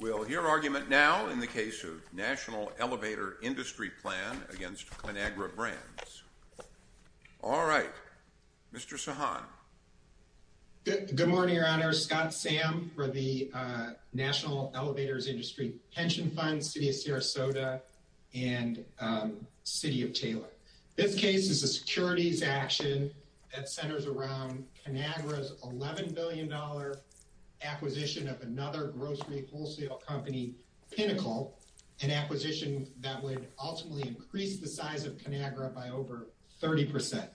We'll hear argument now in the case of National Elevator Industry Plan against Conagra Brands. All right, Mr. Sahan. Good morning, Your Honor. Scott Sam for the National Elevators Industry Pension Fund, City of Sarasota and City of Taylor. This case is a securities action that centers around Conagra's $11 billion acquisition of another grocery wholesale company, Pinnacle, an acquisition that would ultimately increase the size of Conagra by over 30%.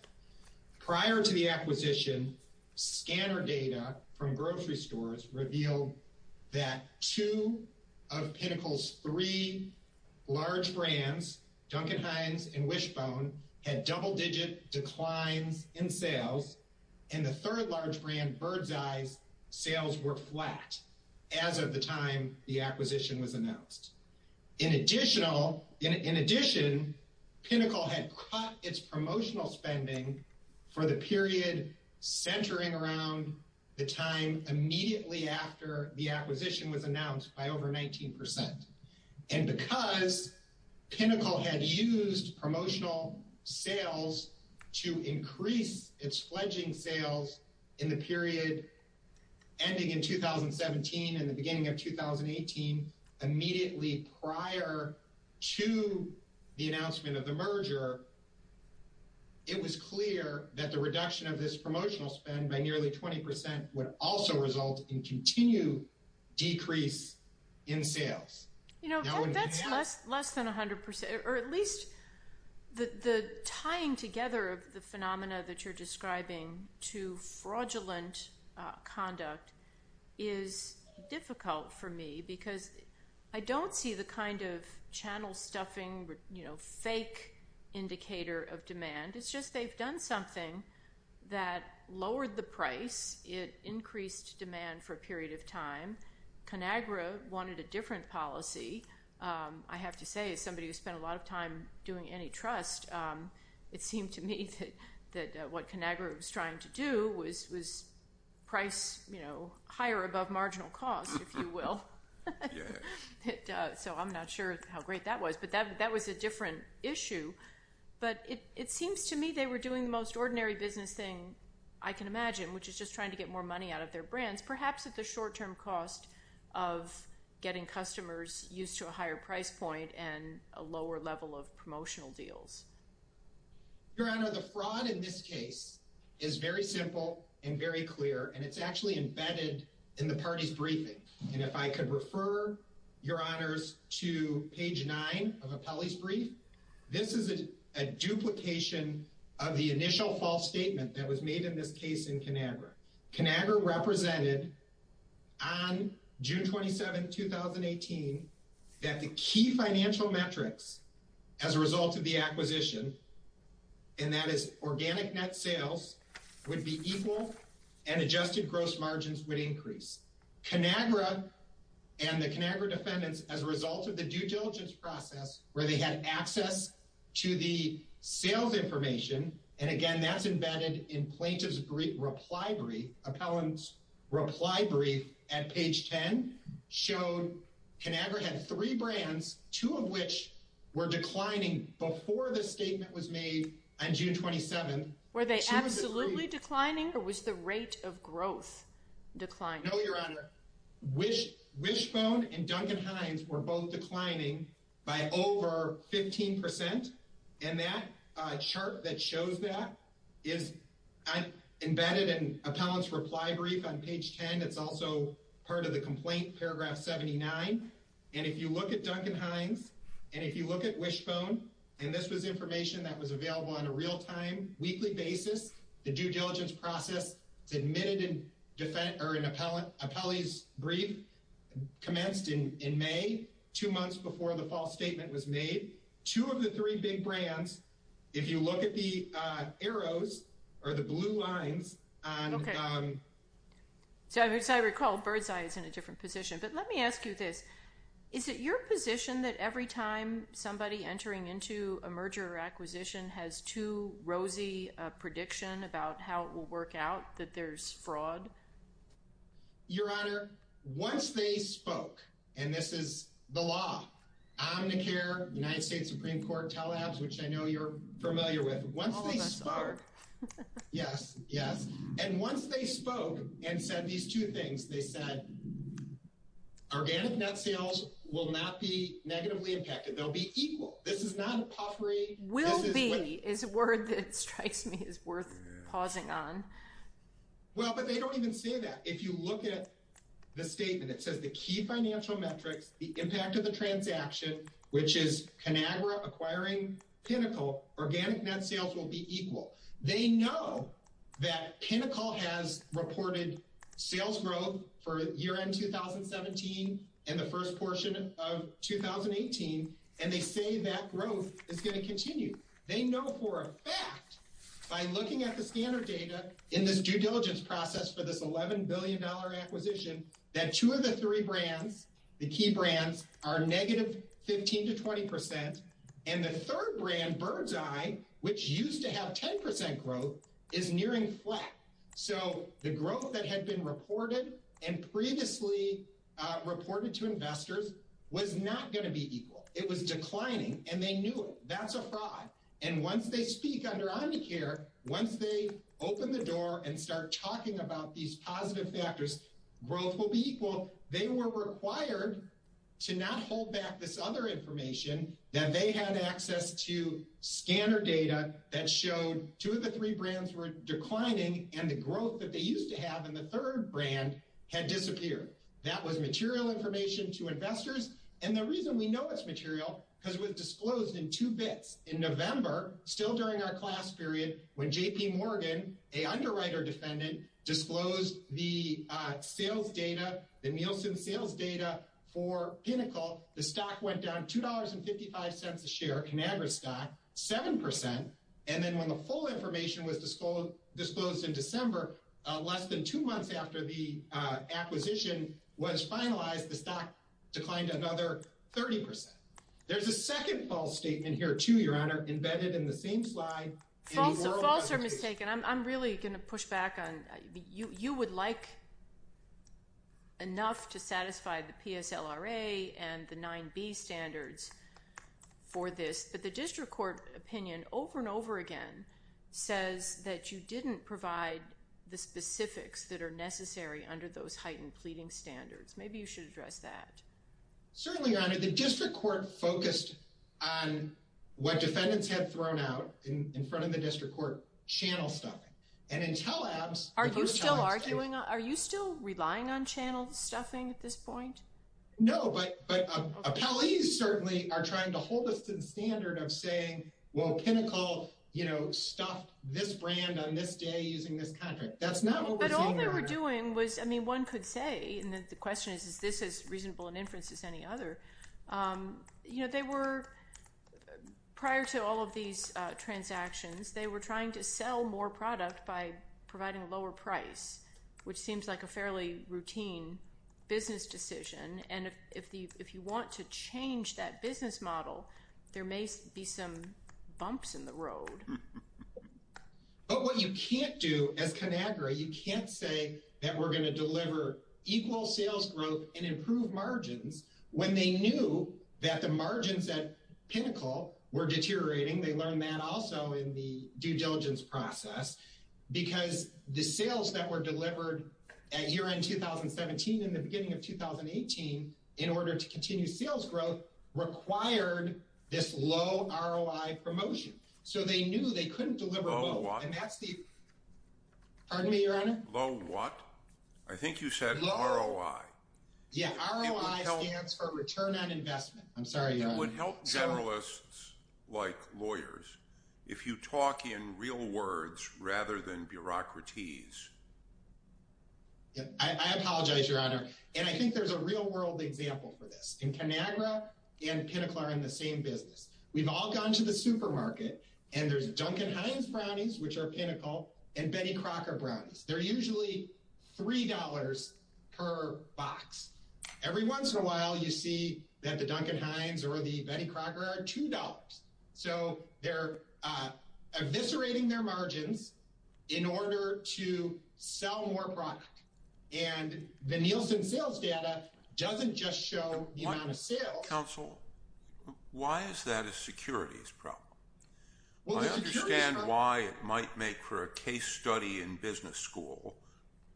Prior to the acquisition, scanner data from grocery stores revealed that two of Pinnacle's three large brands, Duncan Hines and Wishbone, had double-digit declines in sales and the third large brand, Birdseye's, sales were flat as of the time the acquisition was announced. In addition, Pinnacle had cut its promotional spending for the period centering around the time immediately after the acquisition was announced by over 19%. And because Pinnacle had used promotional sales to increase its fledging sales in the period ending in 2017 and the beginning of 2018, immediately prior to the announcement of the merger, it was clear that the reduction of this promotional spend by nearly 20% would also result in continued decrease in sales. You know, that's less than 100%, or at least the tying together of the phenomena that you're describing to fraudulent conduct is difficult for me because I don't see the kind of indicator of demand. It's just they've done something that lowered the price. It increased demand for a period of time. Conagra wanted a different policy. I have to say, as somebody who spent a lot of time doing antitrust, it seemed to me that what Conagra was trying to do was price, you know, higher above marginal cost, if you will. So I'm not sure how great that was, but that was a different issue. But it seems to me they were doing the most ordinary business thing I can imagine, which is just trying to get more money out of their brands, perhaps at the short term cost of getting customers used to a higher price point and a lower level of promotional deals. Your Honor, the fraud in this case is very simple and very clear, and it's actually embedded in the party's briefing. And if I could refer your Honors to page nine of Apelli's brief, this is a duplication of the initial false statement that was made in this case in Conagra. Conagra represented on June 27, 2018, that the key financial metrics as a result of the acquisition, and that is organic net sales, would be equal and adjusted gross margins would increase. Conagra and the Conagra defendants, as a result of the due diligence process, where they had access to the sales information, and again, that's embedded in plaintiff's reply brief, Apelli's reply brief at page 10, showed Conagra had three brands, two of which were on June 27. Were they absolutely declining, or was the rate of growth declining? No, Your Honor. Wishbone and Duncan Hines were both declining by over 15%, and that chart that shows that is embedded in Apelli's reply brief on page 10. It's also part of the complaint, paragraph 79. And if you look at Duncan Hines, and if you look at Wishbone, and this was information that was available on a real-time, weekly basis, the due diligence process, it's admitted in Apelli's brief, commenced in May, two months before the false statement was made. Two of the three big brands, if you look at the arrows, or the blue lines on... So as I recall, Birdseye is in a position, but let me ask you this. Is it your position that every time somebody entering into a merger or acquisition has too rosy a prediction about how it will work out, that there's fraud? Your Honor, once they spoke, and this is the law, Omnicare, United States Supreme Court, TELABS, which I know you're familiar with, once they spoke, yes, yes, and once they spoke and said these two things, they said, organic net sales will not be negatively impacted. They'll be equal. This is not a puffery. Will be is a word that strikes me as worth pausing on. Well, but they don't even say that. If you look at the statement, it says the key financial metrics, the impact of the transaction, which is Conagra acquiring Pinnacle, organic net sales will be sales growth for year-end 2017 and the first portion of 2018, and they say that growth is going to continue. They know for a fact by looking at the scanner data in this due diligence process for this $11 billion acquisition that two of the three brands, the key brands, are negative 15 to 20 percent, and the third brand, Birdseye, which used to have 10 percent growth, is nearing flat. So the growth that had been reported and previously reported to investors was not going to be equal. It was declining, and they knew it. That's a fraud. And once they speak under Omnicare, once they open the door and start talking about these positive factors, growth will be equal. They were required to not hold back this other information that they had access to declining and the growth that they used to have in the third brand had disappeared. That was material information to investors, and the reason we know it's material because it was disclosed in two bits. In November, still during our class period, when JP Morgan, a underwriter defendant, disclosed the sales data, the Nielsen sales data for Pinnacle, the stock went down $2.55 a share, ConAgra stock, 7 percent, and then when the full information was disclosed in December, less than two months after the acquisition was finalized, the stock declined another 30 percent. There's a second false statement here too, Your Honor, embedded in the same slide. False or mistaken? I'm really going to push back on, you would like enough to satisfy the PSLRA and the 9b standards for this, but the district court opinion over and over again says that you didn't provide the specifics that are necessary under those heightened pleading standards. Maybe you should address that. Certainly, Your Honor, the district court focused on what defendants had thrown out in front of the district court channel stuffing, and until abs... Are you still relying on channel stuffing at this point? No, but appellees certainly are trying to hold us to the standard of saying, well, Pinnacle, you know, stuffed this brand on this day using this contract. That's not what we're saying, Your Honor. But all they were doing was, I mean, one could say, and the question is, is this as reasonable an inference as any other? You know, they were, prior to all of these transactions, they were trying to sell more product by providing a lower price, which seems like a fairly routine business decision, and if you want to change that business model, there may be some bumps in the road. But what you can't do as ConAgra, you can't say that we're going to deliver equal sales growth and improve margins when they knew that the margins at Pinnacle were deteriorating. They learned that also in the due diligence process, because the sales that were delivered at year-end 2017 and the beginning of 2018, in order to continue sales growth, required this low ROI promotion. So they knew they couldn't deliver both, and that's the... Pardon me, Your Honor? Low what? I think you said ROI. Yeah, ROI stands for return on investment. I'm sorry, Your Honor. It would help generalists like lawyers if you talk in real words rather than bureaucraties. I apologize, Your Honor, and I think there's a real-world example for this. In ConAgra and Pinnacle are in the same business. We've all gone to the supermarket, and there's Duncan Heinz brownies, which are Pinnacle, and Benny Crocker brownies. They're usually three dollars per box. Every once in a while, you see that the Duncan Heinz or the Benny Crocker are two dollars. So they're eviscerating their margins in order to sell more product, and the Nielsen sales data doesn't just show the amount of sales. Counsel, why is that a securities problem? Well, I understand why it might make for a case study in business school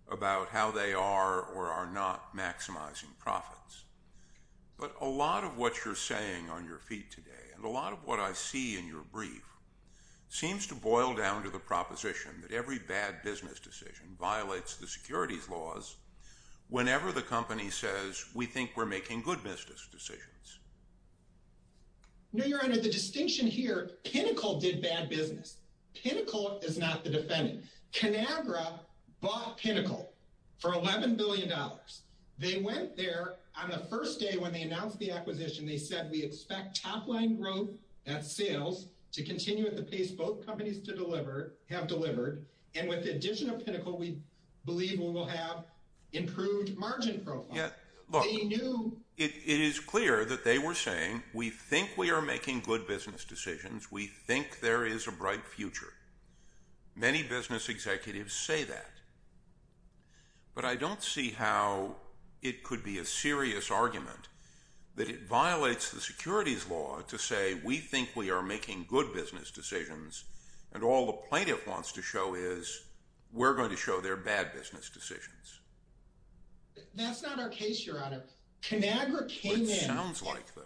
about how they are or are not maximizing profits, but a lot of what you're saying on your feet today and a lot of what I see in your brief seems to boil down to the proposition that every bad business decision violates the securities laws whenever the company says we think we're making good business decisions. No, your honor. The distinction here, Pinnacle did bad business. Pinnacle is not the defendant. ConAgra bought Pinnacle for 11 billion dollars. They went there on the first day when they announced the acquisition. They said we expect top-line growth at sales to continue at the pace both companies have delivered, and with the addition of Pinnacle, we believe we will have improved margin profile. Look, it is clear that they were saying we think we are making good business decisions. We think there is a bright future. Many business executives say that, but I don't see how it could be a serious argument that it violates the securities law to say we think we are making good business decisions, and all the plaintiff wants to show is we're going to show they're bad business decisions. That's not our case, your honor. ConAgra came in. What it sounds like, though.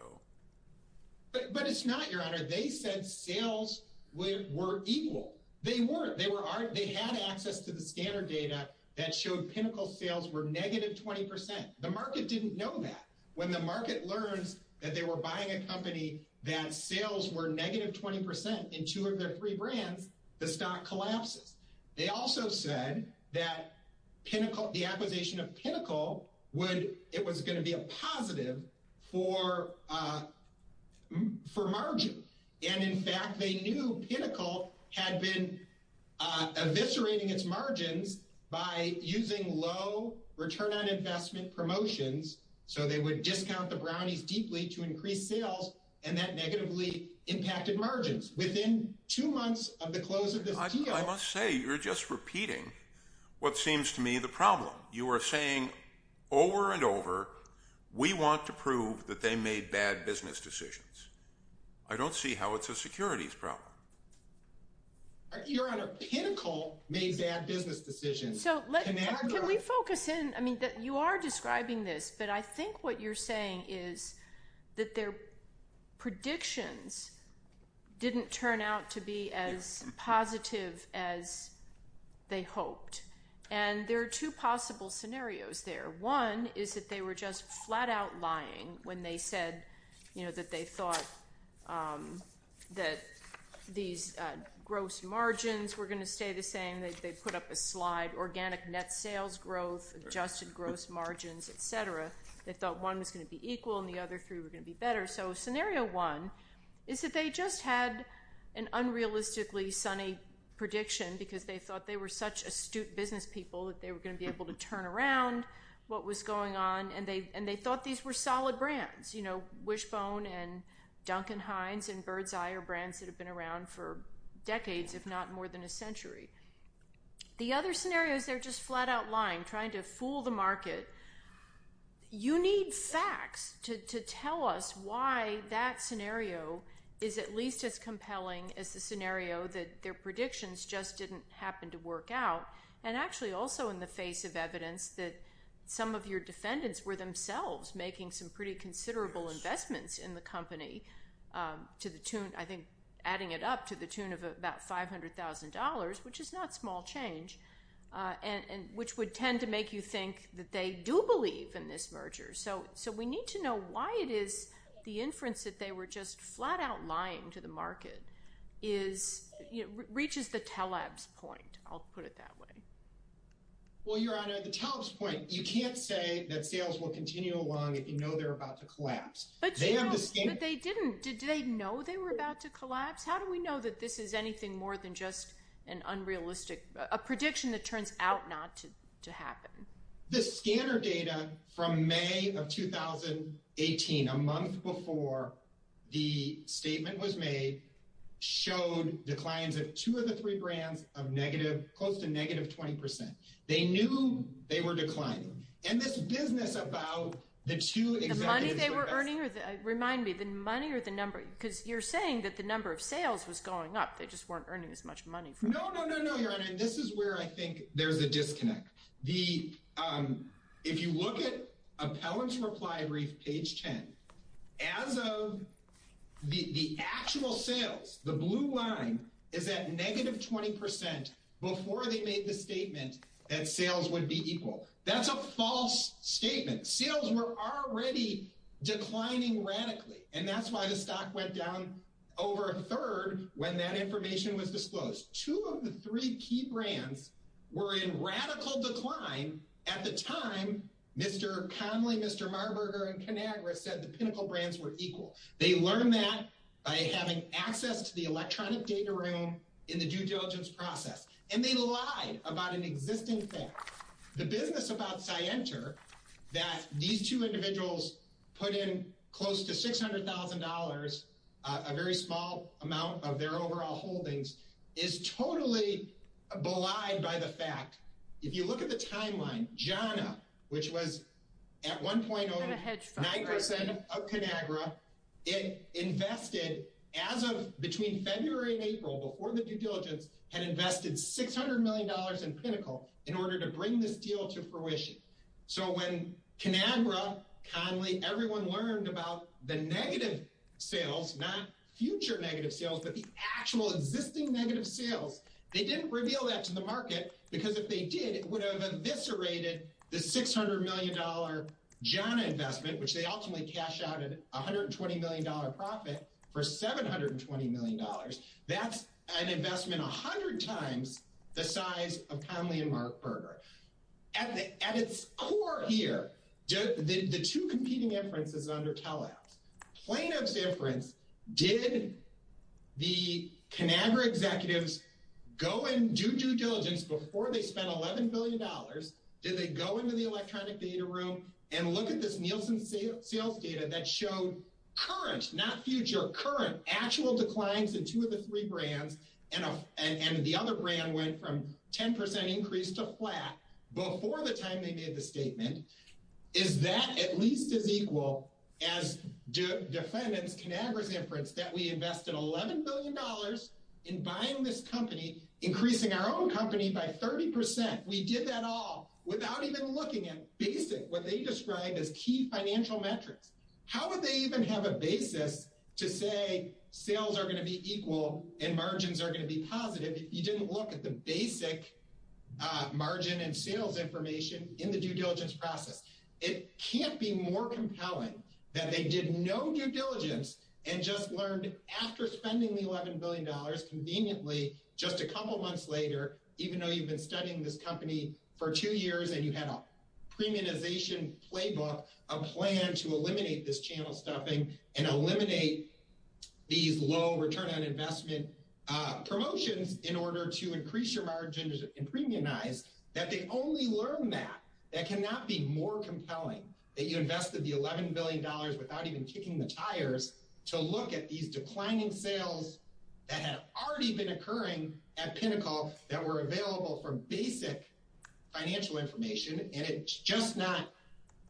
But it's not, your honor. They said sales were equal. They weren't. They had access to the scanner data that showed Pinnacle sales were negative 20%. The market didn't know that. When the market learns that they were buying a company that sales were negative 20% in two of their three brands, the stock collapses. They also said that the acquisition of Pinnacle, it was going to be a positive for margin. And in fact, they knew Pinnacle had been eviscerating its margins by using low return on investment promotions, so they would discount the brownies deeply to increase sales, and that negatively impacted margins. Within two months of the close of this deal- I must say, you're just repeating what seems to me the problem. You are saying over and over, we want to prove that they made bad business decisions. I don't see how it's a securities problem. Your honor, Pinnacle made bad business decisions. Can we focus in? You are describing this, but I think what you're saying is that their predictions didn't turn out to be as positive as they hoped. And there are two possible scenarios there. One is that they were just flat out lying when they said that they thought that these gross margins were going to stay the same. They put up a slide, organic net sales growth, adjusted gross margins, et cetera. They thought one was going to be equal and the other three were going to be better. So scenario one is that they just had an unrealistically sunny prediction because they thought they were such astute business people that they were going to be able to turn around what was going on, and they thought these were solid brands. Wishbone and Duncan Hines and the other scenarios, they're just flat out lying, trying to fool the market. You need facts to tell us why that scenario is at least as compelling as the scenario that their predictions just didn't happen to work out. And actually also in the face of evidence that some of your defendants were themselves making some pretty considerable investments in the company to the tune, I think, adding it up to the tune of about $500,000, which is not small change, which would tend to make you think that they do believe in this merger. So we need to know why it is the inference that they were just flat out lying to the market reaches the telebs point. I'll put it that way. Well, Your Honor, the telebs point, you can't say that sales will Did they know they were about to collapse? How do we know that this is anything more than just an unrealistic, a prediction that turns out not to happen? The scanner data from May of 2018, a month before the statement was made, showed declines of two of the three brands of negative, close to negative 20%. They knew they were declining. And this business about the two You're saying that the number of sales was going up. They just weren't earning as much money. No, no, no, no, Your Honor. And this is where I think there's a disconnect. If you look at appellant's reply brief, page 10, as of the actual sales, the blue line is at negative 20% before they made the statement that sales would be equal. That's a false statement. Sales were already declining radically. And that's why the stock went down over a third when that information was disclosed. Two of the three key brands were in radical decline. At the time, Mr. Conley, Mr. Marburger and Conagra said the pinnacle brands were equal. They learned that by having access to the electronic data room in the due diligence process. And they lied about an existing thing. The business about Cienter that these two individuals put in close to $600,000, a very small amount of their overall holdings, is totally belied by the fact, if you look at the timeline, JANA, which was at one point over 9% of Conagra, it invested as of between February and April before the due diligence, had invested $600 million in pinnacle in order to bring this deal to fruition. So when Conagra, Conley, everyone learned about the negative sales, not future negative sales, but the actual existing negative sales, they didn't reveal that to the market. Because if they did, it would have eviscerated the $600 million JANA investment, which they ultimately cashed out at $120 million profit for $720 million. That's an investment 100 times the size of Conley and Marburger. At its core here, the two competing inferences under teleapps, plaintiff's inference, did the Conagra executives go and do due diligence before they go into the electronic data room and look at this Nielsen sales data that showed current, not future, current actual declines in two of the three brands, and the other brand went from 10% increase to flat before the time they made the statement. Is that at least as equal as defendants Conagra's inference that we invested $11 billion in buying this company, increasing our own company by 30%? We did that all without even looking at basic, what they describe as key financial metrics. How would they even have a basis to say sales are going to be equal and margins are going to be positive if you didn't look at the basic margin and sales information in the due diligence process? It can't be more compelling that they did no due diligence and just learned after spending the $11 billion, conveniently, just a couple months later, even though you've been studying this company for two years and you had a premiumization playbook, a plan to eliminate this channel stuffing and eliminate these low return on investment promotions in order to increase your margins and premiumize, that they only learned that. That cannot be more compelling that you invested the $11 billion without even kicking the tires to look at these declining sales that have already been occurring at pinnacle that were available for basic financial information. And it's just not,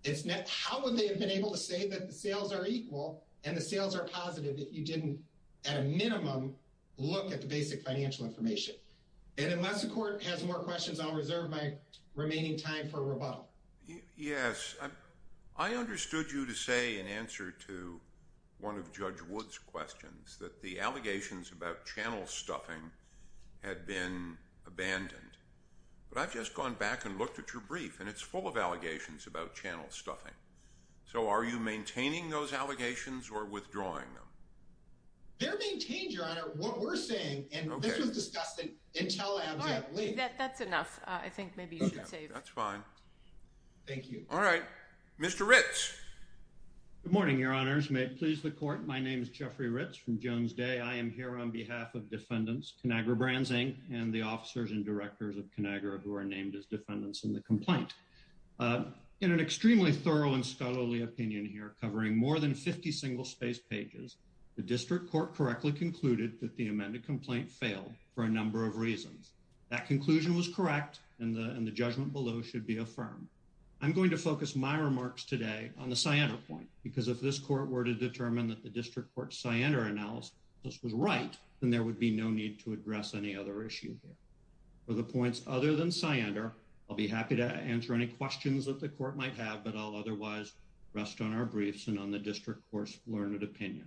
it's not, how would they have been able to say that the sales are equal and the sales are positive that you didn't at a minimum look at the basic financial information? And unless the court has more questions, I'll reserve my remaining time for rebuttal. Yes. I understood you to say in answer to one of judge Wood's questions that the allegations about channel stuffing had been abandoned, but I've just gone back and looked at your brief and it's full of allegations about channel stuffing. So are you maintaining those Thank you. All right. Mr. Ritz. Good morning. Your honors may please the court. My name is Jeffrey Ritz from Jones day. I am here on behalf of defendants, Conagra brands, Inc and the officers and directors of Conagra who are named as defendants in the complaint. Uh, in an extremely thorough and scholarly opinion here, covering more than 50 single space pages, the district court correctly concluded that the amended complaint failed for a number of reasons. That conclusion was correct. And the, and the judgment below should be affirmed. I'm going to focus my remarks today on the cyander point, because if this court were to determine that the district court cyander analysis was right, then there would be no need to address any other issue here or the points other than cyander. I'll be happy to answer any questions that the court might have, but I'll otherwise rest on our briefs and on the district course learned opinion.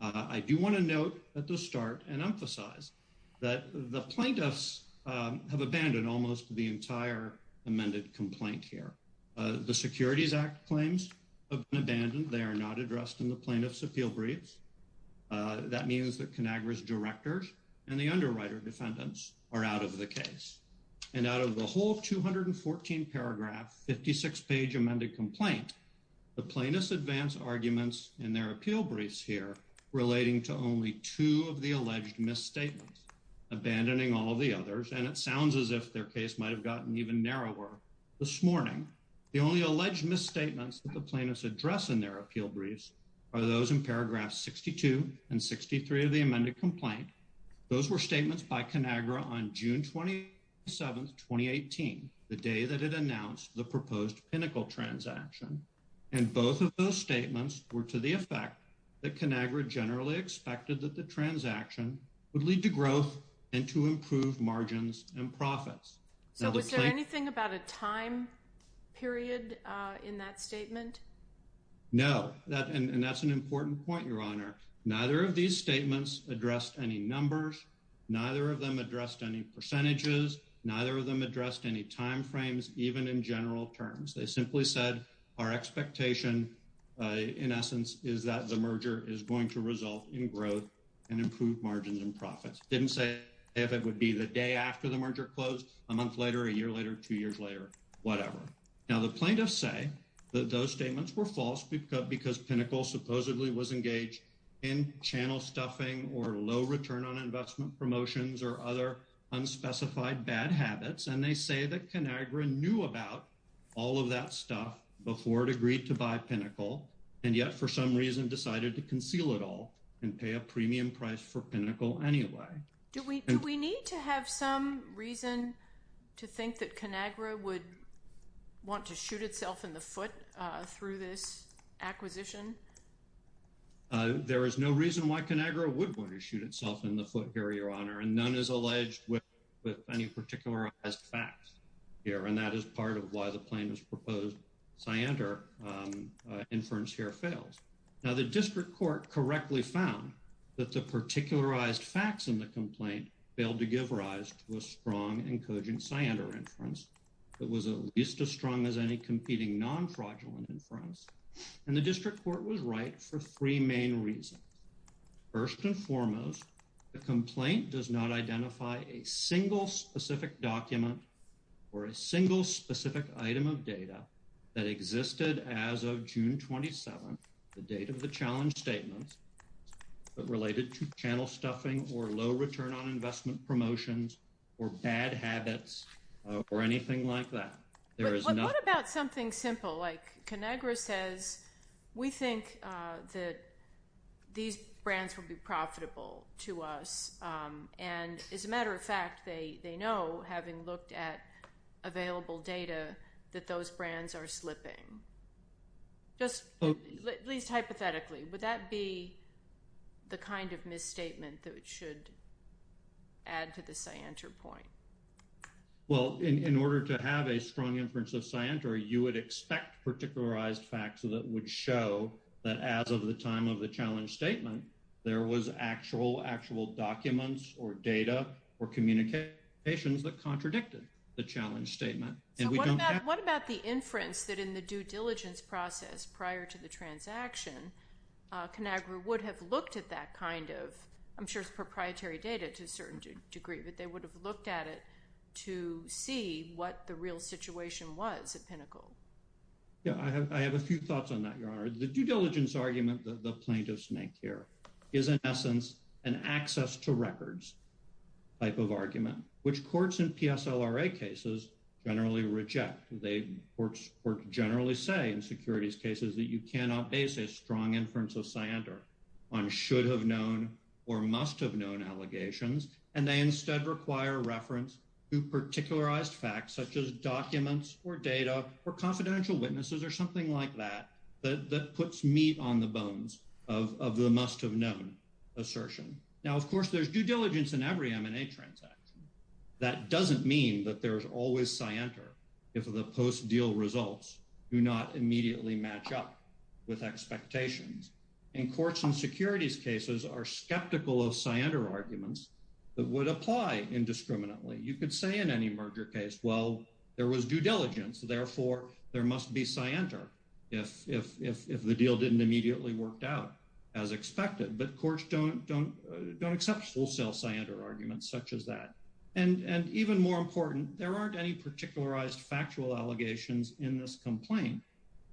Uh, I do want to note at the start and emphasize that the plaintiffs have abandoned almost the entire amended complaint here. Uh, the securities act claims have been abandoned. They are not addressed in the plaintiff's appeal briefs. Uh, that means that Conagra's directors and the underwriter defendants are out of the case and out of the whole 214 56 page amended complaint. The plaintiff's advanced arguments in their appeal briefs here relating to only two of the alleged misstatements abandoning all of the others. And it sounds as if their case might've gotten even narrower this morning. The only alleged misstatements that the plaintiffs address in their appeal briefs are those in paragraph 62 and 63 of the amended complaint. Those were statements by Conagra on June 27th, 2018, the day that it announced the proposed pinnacle transaction. And both of those statements were to the effect that Conagra generally expected that the transaction would lead to growth and to improve margins and profits. So was there anything about a time period in that statement? No, that, and that's an important point. Your honor, neither of these statements addressed any numbers, neither of them addressed any percentages, neither of them addressed any timeframes, even in general terms. They simply said our expectation, uh, in essence is that the merger is going to result in growth and improve margins and profits. Didn't say if it would be the day after the merger closed a month later, a year later, two years later, whatever. Now the plaintiffs say that those statements were false because Pinnacle supposedly was engaged in channel stuffing or low return on investment promotions or other unspecified bad habits. And they say that Conagra knew about all of that stuff before it agreed to buy Pinnacle. And yet for some reason decided to conceal it all and pay a premium price for Pinnacle anyway. Do we, do we need to have some reason to think that Conagra would want to shoot itself in the foot, uh, through this acquisition? Uh, there is no reason why Conagra would want to shoot itself in the foot here, your honor. And none is alleged with, with any particularized facts here. And that is part of why the plaintiff's proposed Siander, um, inference here fails. Now the district court correctly found that the particularized facts in the complaint failed to give rise to a strong and cogent Siander inference that was at least as strong as any competing non-fraudulent inference. And the district court was right for three main reasons. First and foremost, the complaint does not identify a single specific document or a single specific item of data that existed as of June 27th, the date of the challenge statements, but related to channel stuffing or low return on investment promotions or bad habits, or anything like that. There is nothing. What about something simple like Conagra says, we think, uh, that these brands will be profitable to us. Um, and as a matter of fact, they, they know having looked at available data that those brands are slipping. Just at least hypothetically, would that be the kind of misstatement that it should add to the Siander point? Well, in, in order to have a strong inference of Siander, you would expect particularized facts that would show that as of the time of the challenge statement, there was actual, actual documents or data or communications that contradicted the challenge statement. What about the inference that in the due diligence process prior to the transaction, uh, Conagra would have looked at that kind of, I'm sure it's proprietary data to a certain degree, but they would have looked at it to see what the real situation was at Pinnacle. Yeah, I have, I have a few thoughts on that. Your honor, the due diligence argument that the plaintiffs make here is an essence and access to records type of argument, which courts and PSLRA cases generally reject. They generally say in securities cases that you cannot base a strong inference of Siander on should have known or must have known allegations. And they instead require reference to particularized facts such as documents or data or confidential witnesses or something like that, that, that puts meat on the bones of, of the must have known assertion. Now, of course, there's due diligence in every M&A transaction. That doesn't mean that there's always Siander if the post deal results do not immediately match up with expectations. In courts and securities cases are skeptical of Siander arguments that would apply indiscriminately. You could say in any merger case, well, there was due diligence, therefore there must be Siander if, if, if, if the deal didn't immediately worked out as expected, but courts don't, don't, don't accept wholesale Siander arguments such as that. And, and even more important, there aren't any particularized factual allegations in this complaint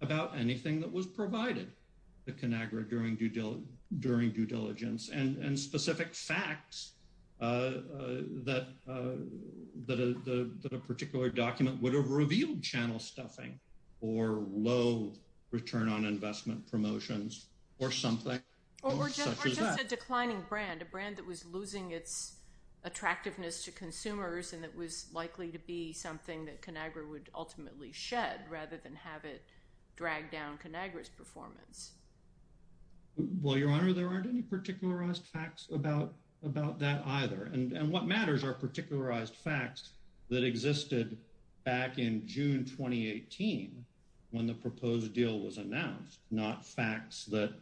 about anything that was provided to Conagra during due during due diligence and, and specific facts that, that a, that a particular document would have revealed channel stuffing or low return on investment promotions or something. Or just a declining brand, a brand that was losing its attractiveness to consumers and that was likely to be something that Conagra would ultimately shed rather than have it dragged down Conagra's Well, Your Honor, there aren't any particularized facts about, about that either. And what matters are particularized facts that existed back in June, 2018, when the proposed deal was announced, not facts that,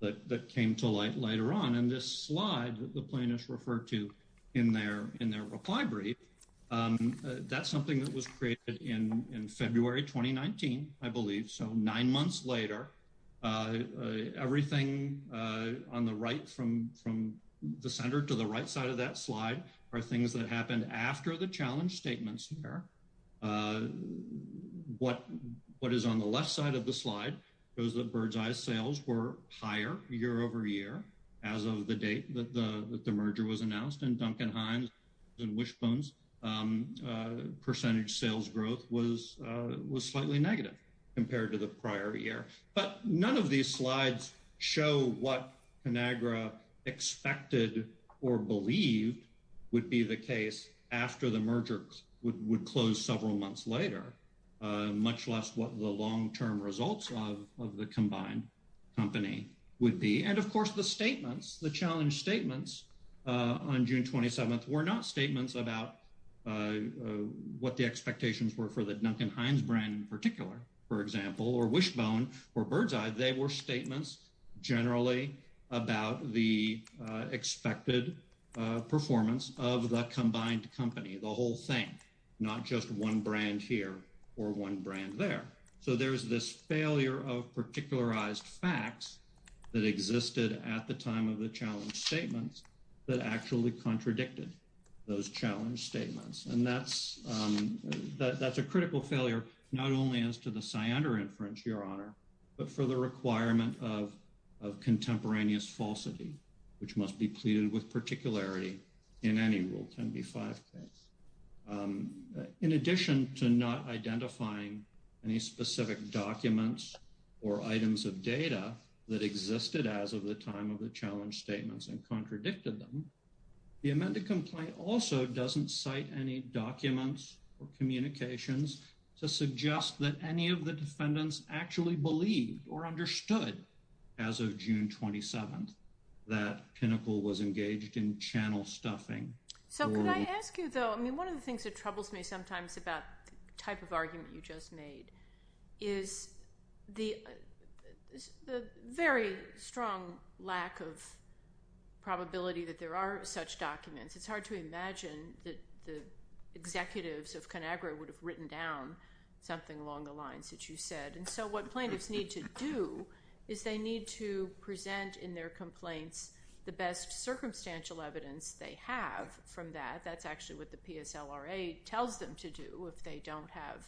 that, that came to light later on. And this slide that the plaintiffs referred to in their, in their reply brief, that's something that was created in, in February, 2019, I believe. So nine months later, everything on the right from, from the center to the right side of that slide are things that happened after the challenge statements here. What, what is on the left side of the slide, it was the bird's eye sales were higher year over year as of the date that the, that the merger was announced and Duncan Hines and Wishbones percentage sales growth was, was slightly negative compared to the prior year. But none of these slides show what Conagra expected or believed would be the case after the merger would, would close several months later, much less what the long-term results of, of the combined company would be. And of course, the statements, the challenge statements on June 27th were not statements about what the expectations were for the Duncan Hines brand in particular, for example, or Wishbone or Birdseye, they were statements generally about the expected performance of the combined company, the whole thing, not just one brand here or one brand there. So there's this failure of particularized facts that existed at the time of the challenge statements that actually contradicted those challenge statements. And that's, that's a critical failure, not only as to the Cyander inference, your honor, but for the requirement of, of contemporaneous falsity, which must be pleaded with particularity in any rule 10B5 case. In addition to not identifying any specific documents or items of contradiction, the amended complaint also doesn't cite any documents or communications to suggest that any of the defendants actually believed or understood as of June 27th, that Pinnacle was engaged in channel stuffing. So could I ask you though, I mean, one of the things that troubles me sometimes about the type of argument you just made is the, the very strong lack of probability that there are such documents. It's hard to imagine that the executives of ConAgra would have written down something along the lines that you said. And so what plaintiffs need to do is they need to present in their complaints the best circumstantial evidence they have from that. That's actually what the PSLRA tells them to do if they don't have,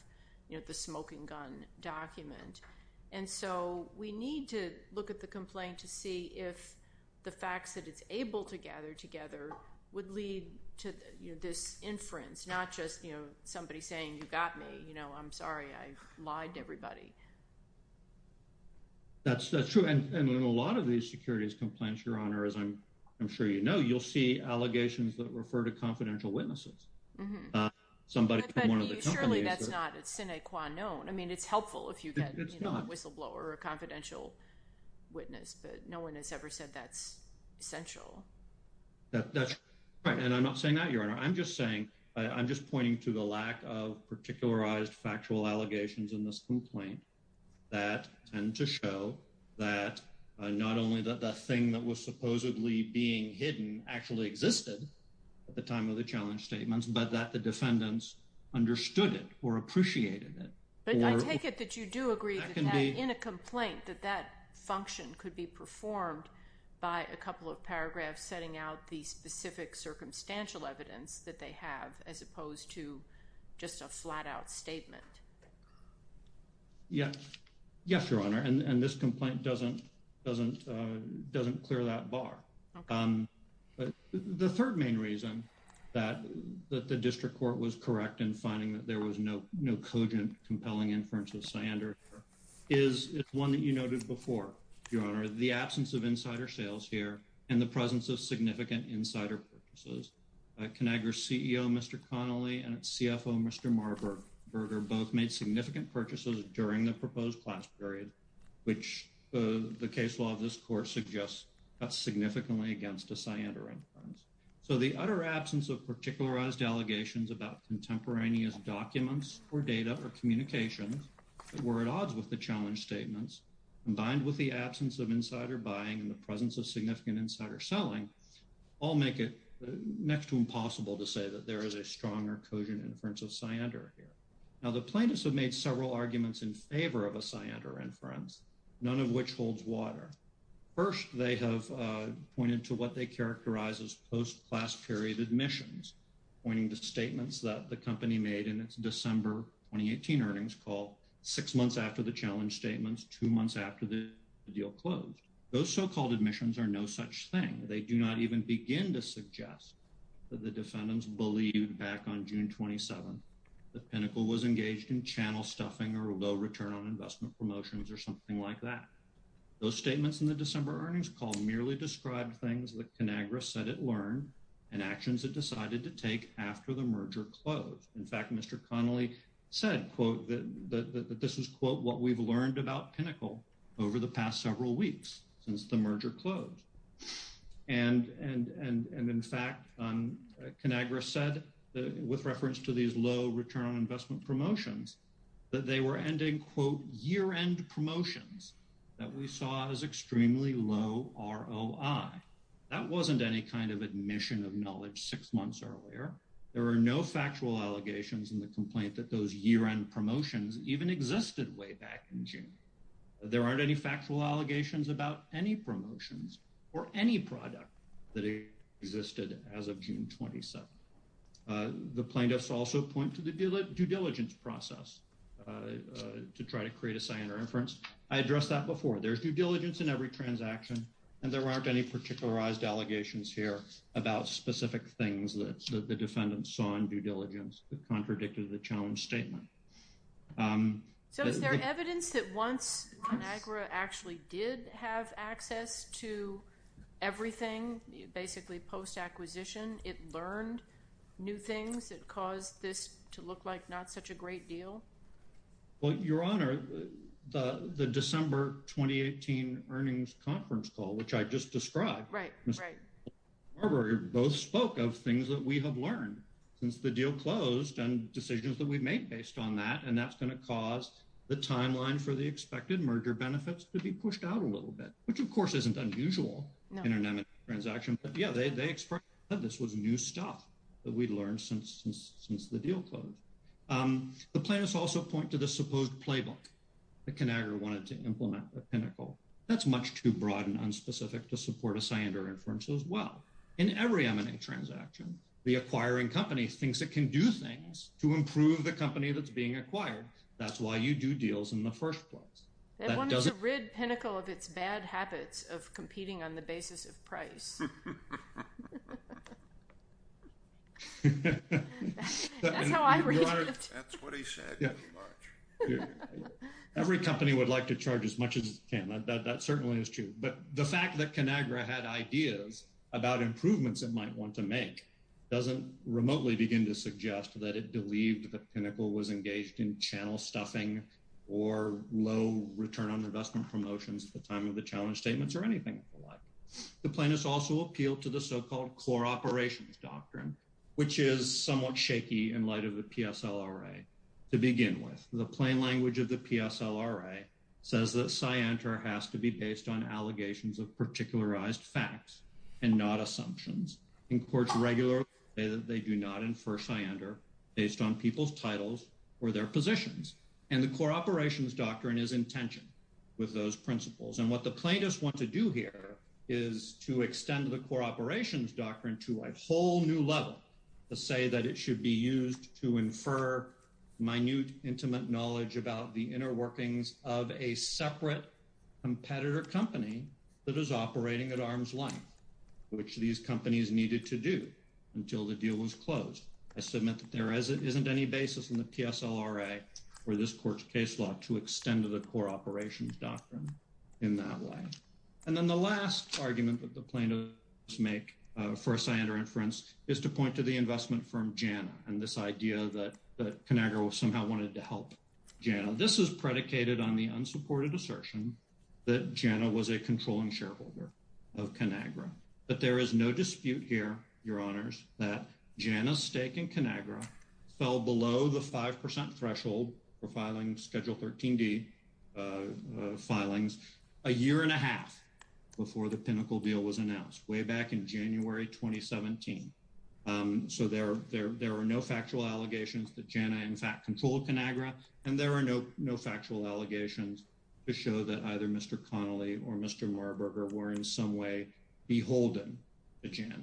you know, the smoking gun document. And so we need to look at the complaint to see if the facts that it's able to gather together would lead to, you know, this inference, not just, you know, somebody saying, you got me, you know, I'm sorry, I lied to everybody. That's, that's true. And in a lot of these securities complaints, your honor, as I'm, I'm sure, you know, you'll see allegations that refer to confidential witnesses, somebody from one of the companies. Surely that's not a sine qua non. I mean, it's helpful if you get a whistleblower or a confidential witness, but no one has ever said that's essential. That's right. And I'm not saying that your honor, I'm just saying, I'm just pointing to the lack of particularized factual allegations in this complaint that tend to show that not only the thing that was supposedly being hidden actually existed at the time of the challenge statements, but that the defendants understood it or appreciated it. But I take it that you do agree in a complaint that that function could be performed by a couple of paragraphs setting out the specific circumstantial evidence that they have, as opposed to just a flat out statement. Yeah. Yes, your honor. And, and this complaint doesn't, doesn't, uh, doesn't clear that bar. Um, but the third main reason that, that the district court was correct in finding that there was no, no cogent, compelling inference of Sander is it's one that you noted before, your honor, the absence of insider sales here and the presence of significant insider purchases. Uh, ConAgra CEO, Mr. Connolly and CFO, Mr. Marburger, both made significant purchases during the proposed class period, which, uh, the case law of this court suggests that's significantly against a Sander inference. So the utter absence of particularized allegations about contemporaneous documents or data or communications that were at odds with the challenge statements combined with the absence of insider buying and the presence of significant insider selling all make it next to impossible to say that there is a strong or cogent inference of Sander here. Now the plaintiffs have made several arguments in favor of a Sander inference, none of which holds water. First, they have, uh, pointed to what they characterize as post-class period admissions, pointing to statements that the company made in its December 2018 earnings call six months after the challenge statements, two months after the deal closed. Those so-called admissions are no such thing. They do not even begin to suggest that the defendants believed back on June 27, the pinnacle was engaged in channel stuffing or low return on investment promotions or something like that. Those statements in the December earnings call merely described things that ConAgra said it learned and actions that decided to take after the merger closed. In fact, Mr. Connolly said, quote, that this was quote, what we've learned about pinnacle over the past several weeks since the merger closed. And, and, and, and in fact, um, ConAgra said that with reference to these low return on investment promotions, that they were ending quote year-end promotions that we saw as extremely low ROI. That wasn't any kind of admission of knowledge six months earlier. There are no factual allegations in the complaint that those year-end promotions even existed way back in June. There aren't any factual allegations about any promotions or any product that existed as of June 27. Uh, the plaintiffs also point to the due diligence process, uh, uh, to try to create a sign or inference. I addressed that before. There's due diligence in every transaction, and there aren't any particularized allegations here about specific things that the defendants saw in due diligence that contradicted the challenge statement. Um, so is there evidence that once ConAgra actually did have access to everything, basically post-acquisition, it learned new things that caused this to look like not such a great deal? Well, Your Honor, the, the December 2018 earnings conference call, which I just described, Right, right. Barbara both spoke of things that we have learned since the deal closed and decisions that we've made based on that, and that's going to cause the timeline for the expected merger benefits to be pushed out a little bit, which of course isn't unusual in an M&A transaction, but yeah, they, they expressed that this was new stuff that we'd learned since, since, since the deal closed. Um, the plaintiffs also point to the supposed playbook that ConAgra wanted to implement a pinnacle. That's much too broad and unspecific to support a scionder inference as well. In every M&A transaction, the acquiring company thinks it can do things to improve the company that's being acquired. That's why you do deals in the first place. That one is a rid pinnacle of its bad habits of competing on the basis of price. That's how I read it. That's what he said. Yeah, every company would like to charge as much as it can. That certainly is true, but the fact that ConAgra had ideas about improvements it might want to make doesn't remotely begin to suggest that it believed the pinnacle was engaged in channel stuffing or low return on investment promotions at the time of the challenge statements or anything like. The plaintiffs also appeal to the so-called core operations doctrine, which is somewhat shaky in light of the PSLRA, to begin with. The plain language of the PSLRA says that scionder has to be based on allegations of particularized facts and not assumptions. In courts regularly, they do not infer scionder based on people's titles or their positions. The core operations doctrine is in tension with those principles. What the plaintiffs want to do here is to extend the core operations doctrine to a whole new level, to say that it should be used to infer minute, intimate knowledge about the inner workings of a separate competitor company that is operating at arm's length, which these companies needed to do until the deal was closed. I submit that there isn't any basis in the PSLRA or this court's case law to extend to the core operations doctrine in that way. And then the last argument that the plaintiffs make for a scionder inference is to point to the investment firm Jana and this idea that that Conagra somehow wanted to help Jana. This is predicated on the unsupported assertion that Jana was a controlling shareholder of Conagra, but there is no dispute here, your honors, that Jana's stake in Conagra fell below the five before the pinnacle deal was announced, way back in January 2017. So there are no factual allegations that Jana, in fact, controlled Conagra, and there are no factual allegations to show that either Mr. Connolly or Mr. Marburger were in some way beholden to Jana.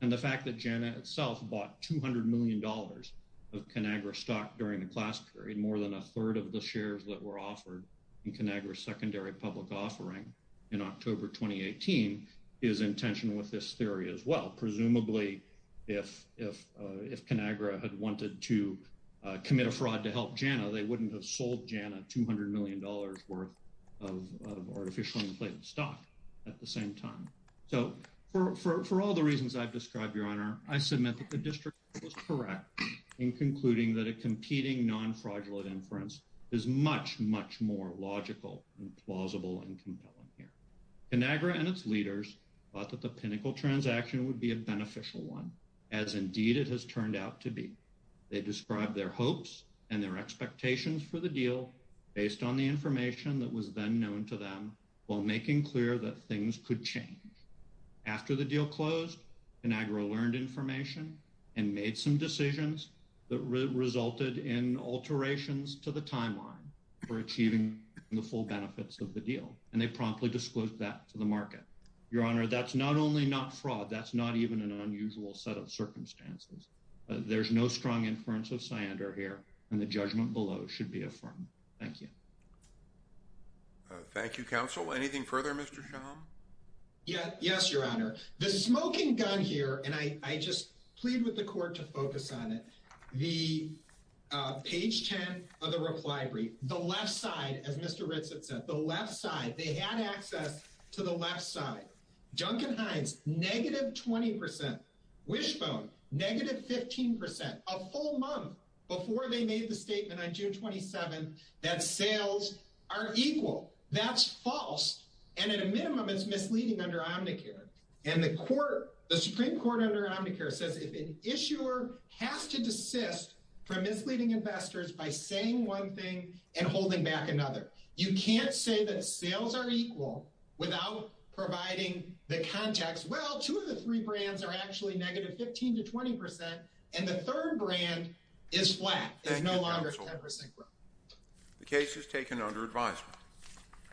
And the fact that Jana itself bought $200 million of Conagra stock during the class period, more than a third of the shares that were offered in Conagra's secondary public offering in October 2018, is in tension with this theory as well. Presumably, if Conagra had wanted to commit a fraud to help Jana, they wouldn't have sold Jana $200 million worth of artificially inflated stock at the same time. So for all the reasons I've described, your honor, I submit that district was correct in concluding that a competing non-fraudulent inference is much, much more logical and plausible and compelling here. Conagra and its leaders thought that the pinnacle transaction would be a beneficial one, as indeed it has turned out to be. They described their hopes and their expectations for the deal based on the information that was then known to them while making clear that things could change. After the deal closed, Conagra learned information, and made some decisions that resulted in alterations to the timeline for achieving the full benefits of the deal. And they promptly disclosed that to the market. Your honor, that's not only not fraud, that's not even an unusual set of circumstances. There's no strong inference of cyander here, and the judgment below should be affirmed. Thank you. Thank you, counsel. Anything further, Mr. Schaum? Yeah, yes, your honor. The smoking gun here, and I just plead with the court to focus on it, the page 10 of the reply brief, the left side, as Mr. Ritz had said, the left side, they had access to the left side. Duncan Hines, negative 20 percent. Wishbone, negative 15 percent. A full month before they made the statement on June 27th that sales are equal. That's false, and at a misleading under Omnicare. And the Supreme Court under Omnicare says if an issuer has to desist from misleading investors by saying one thing and holding back another. You can't say that sales are equal without providing the context, well, two of the three brands are actually negative 15 to 20 percent, and the third brand is flat. It's no longer 10 percent growth. The case is taken under advisement.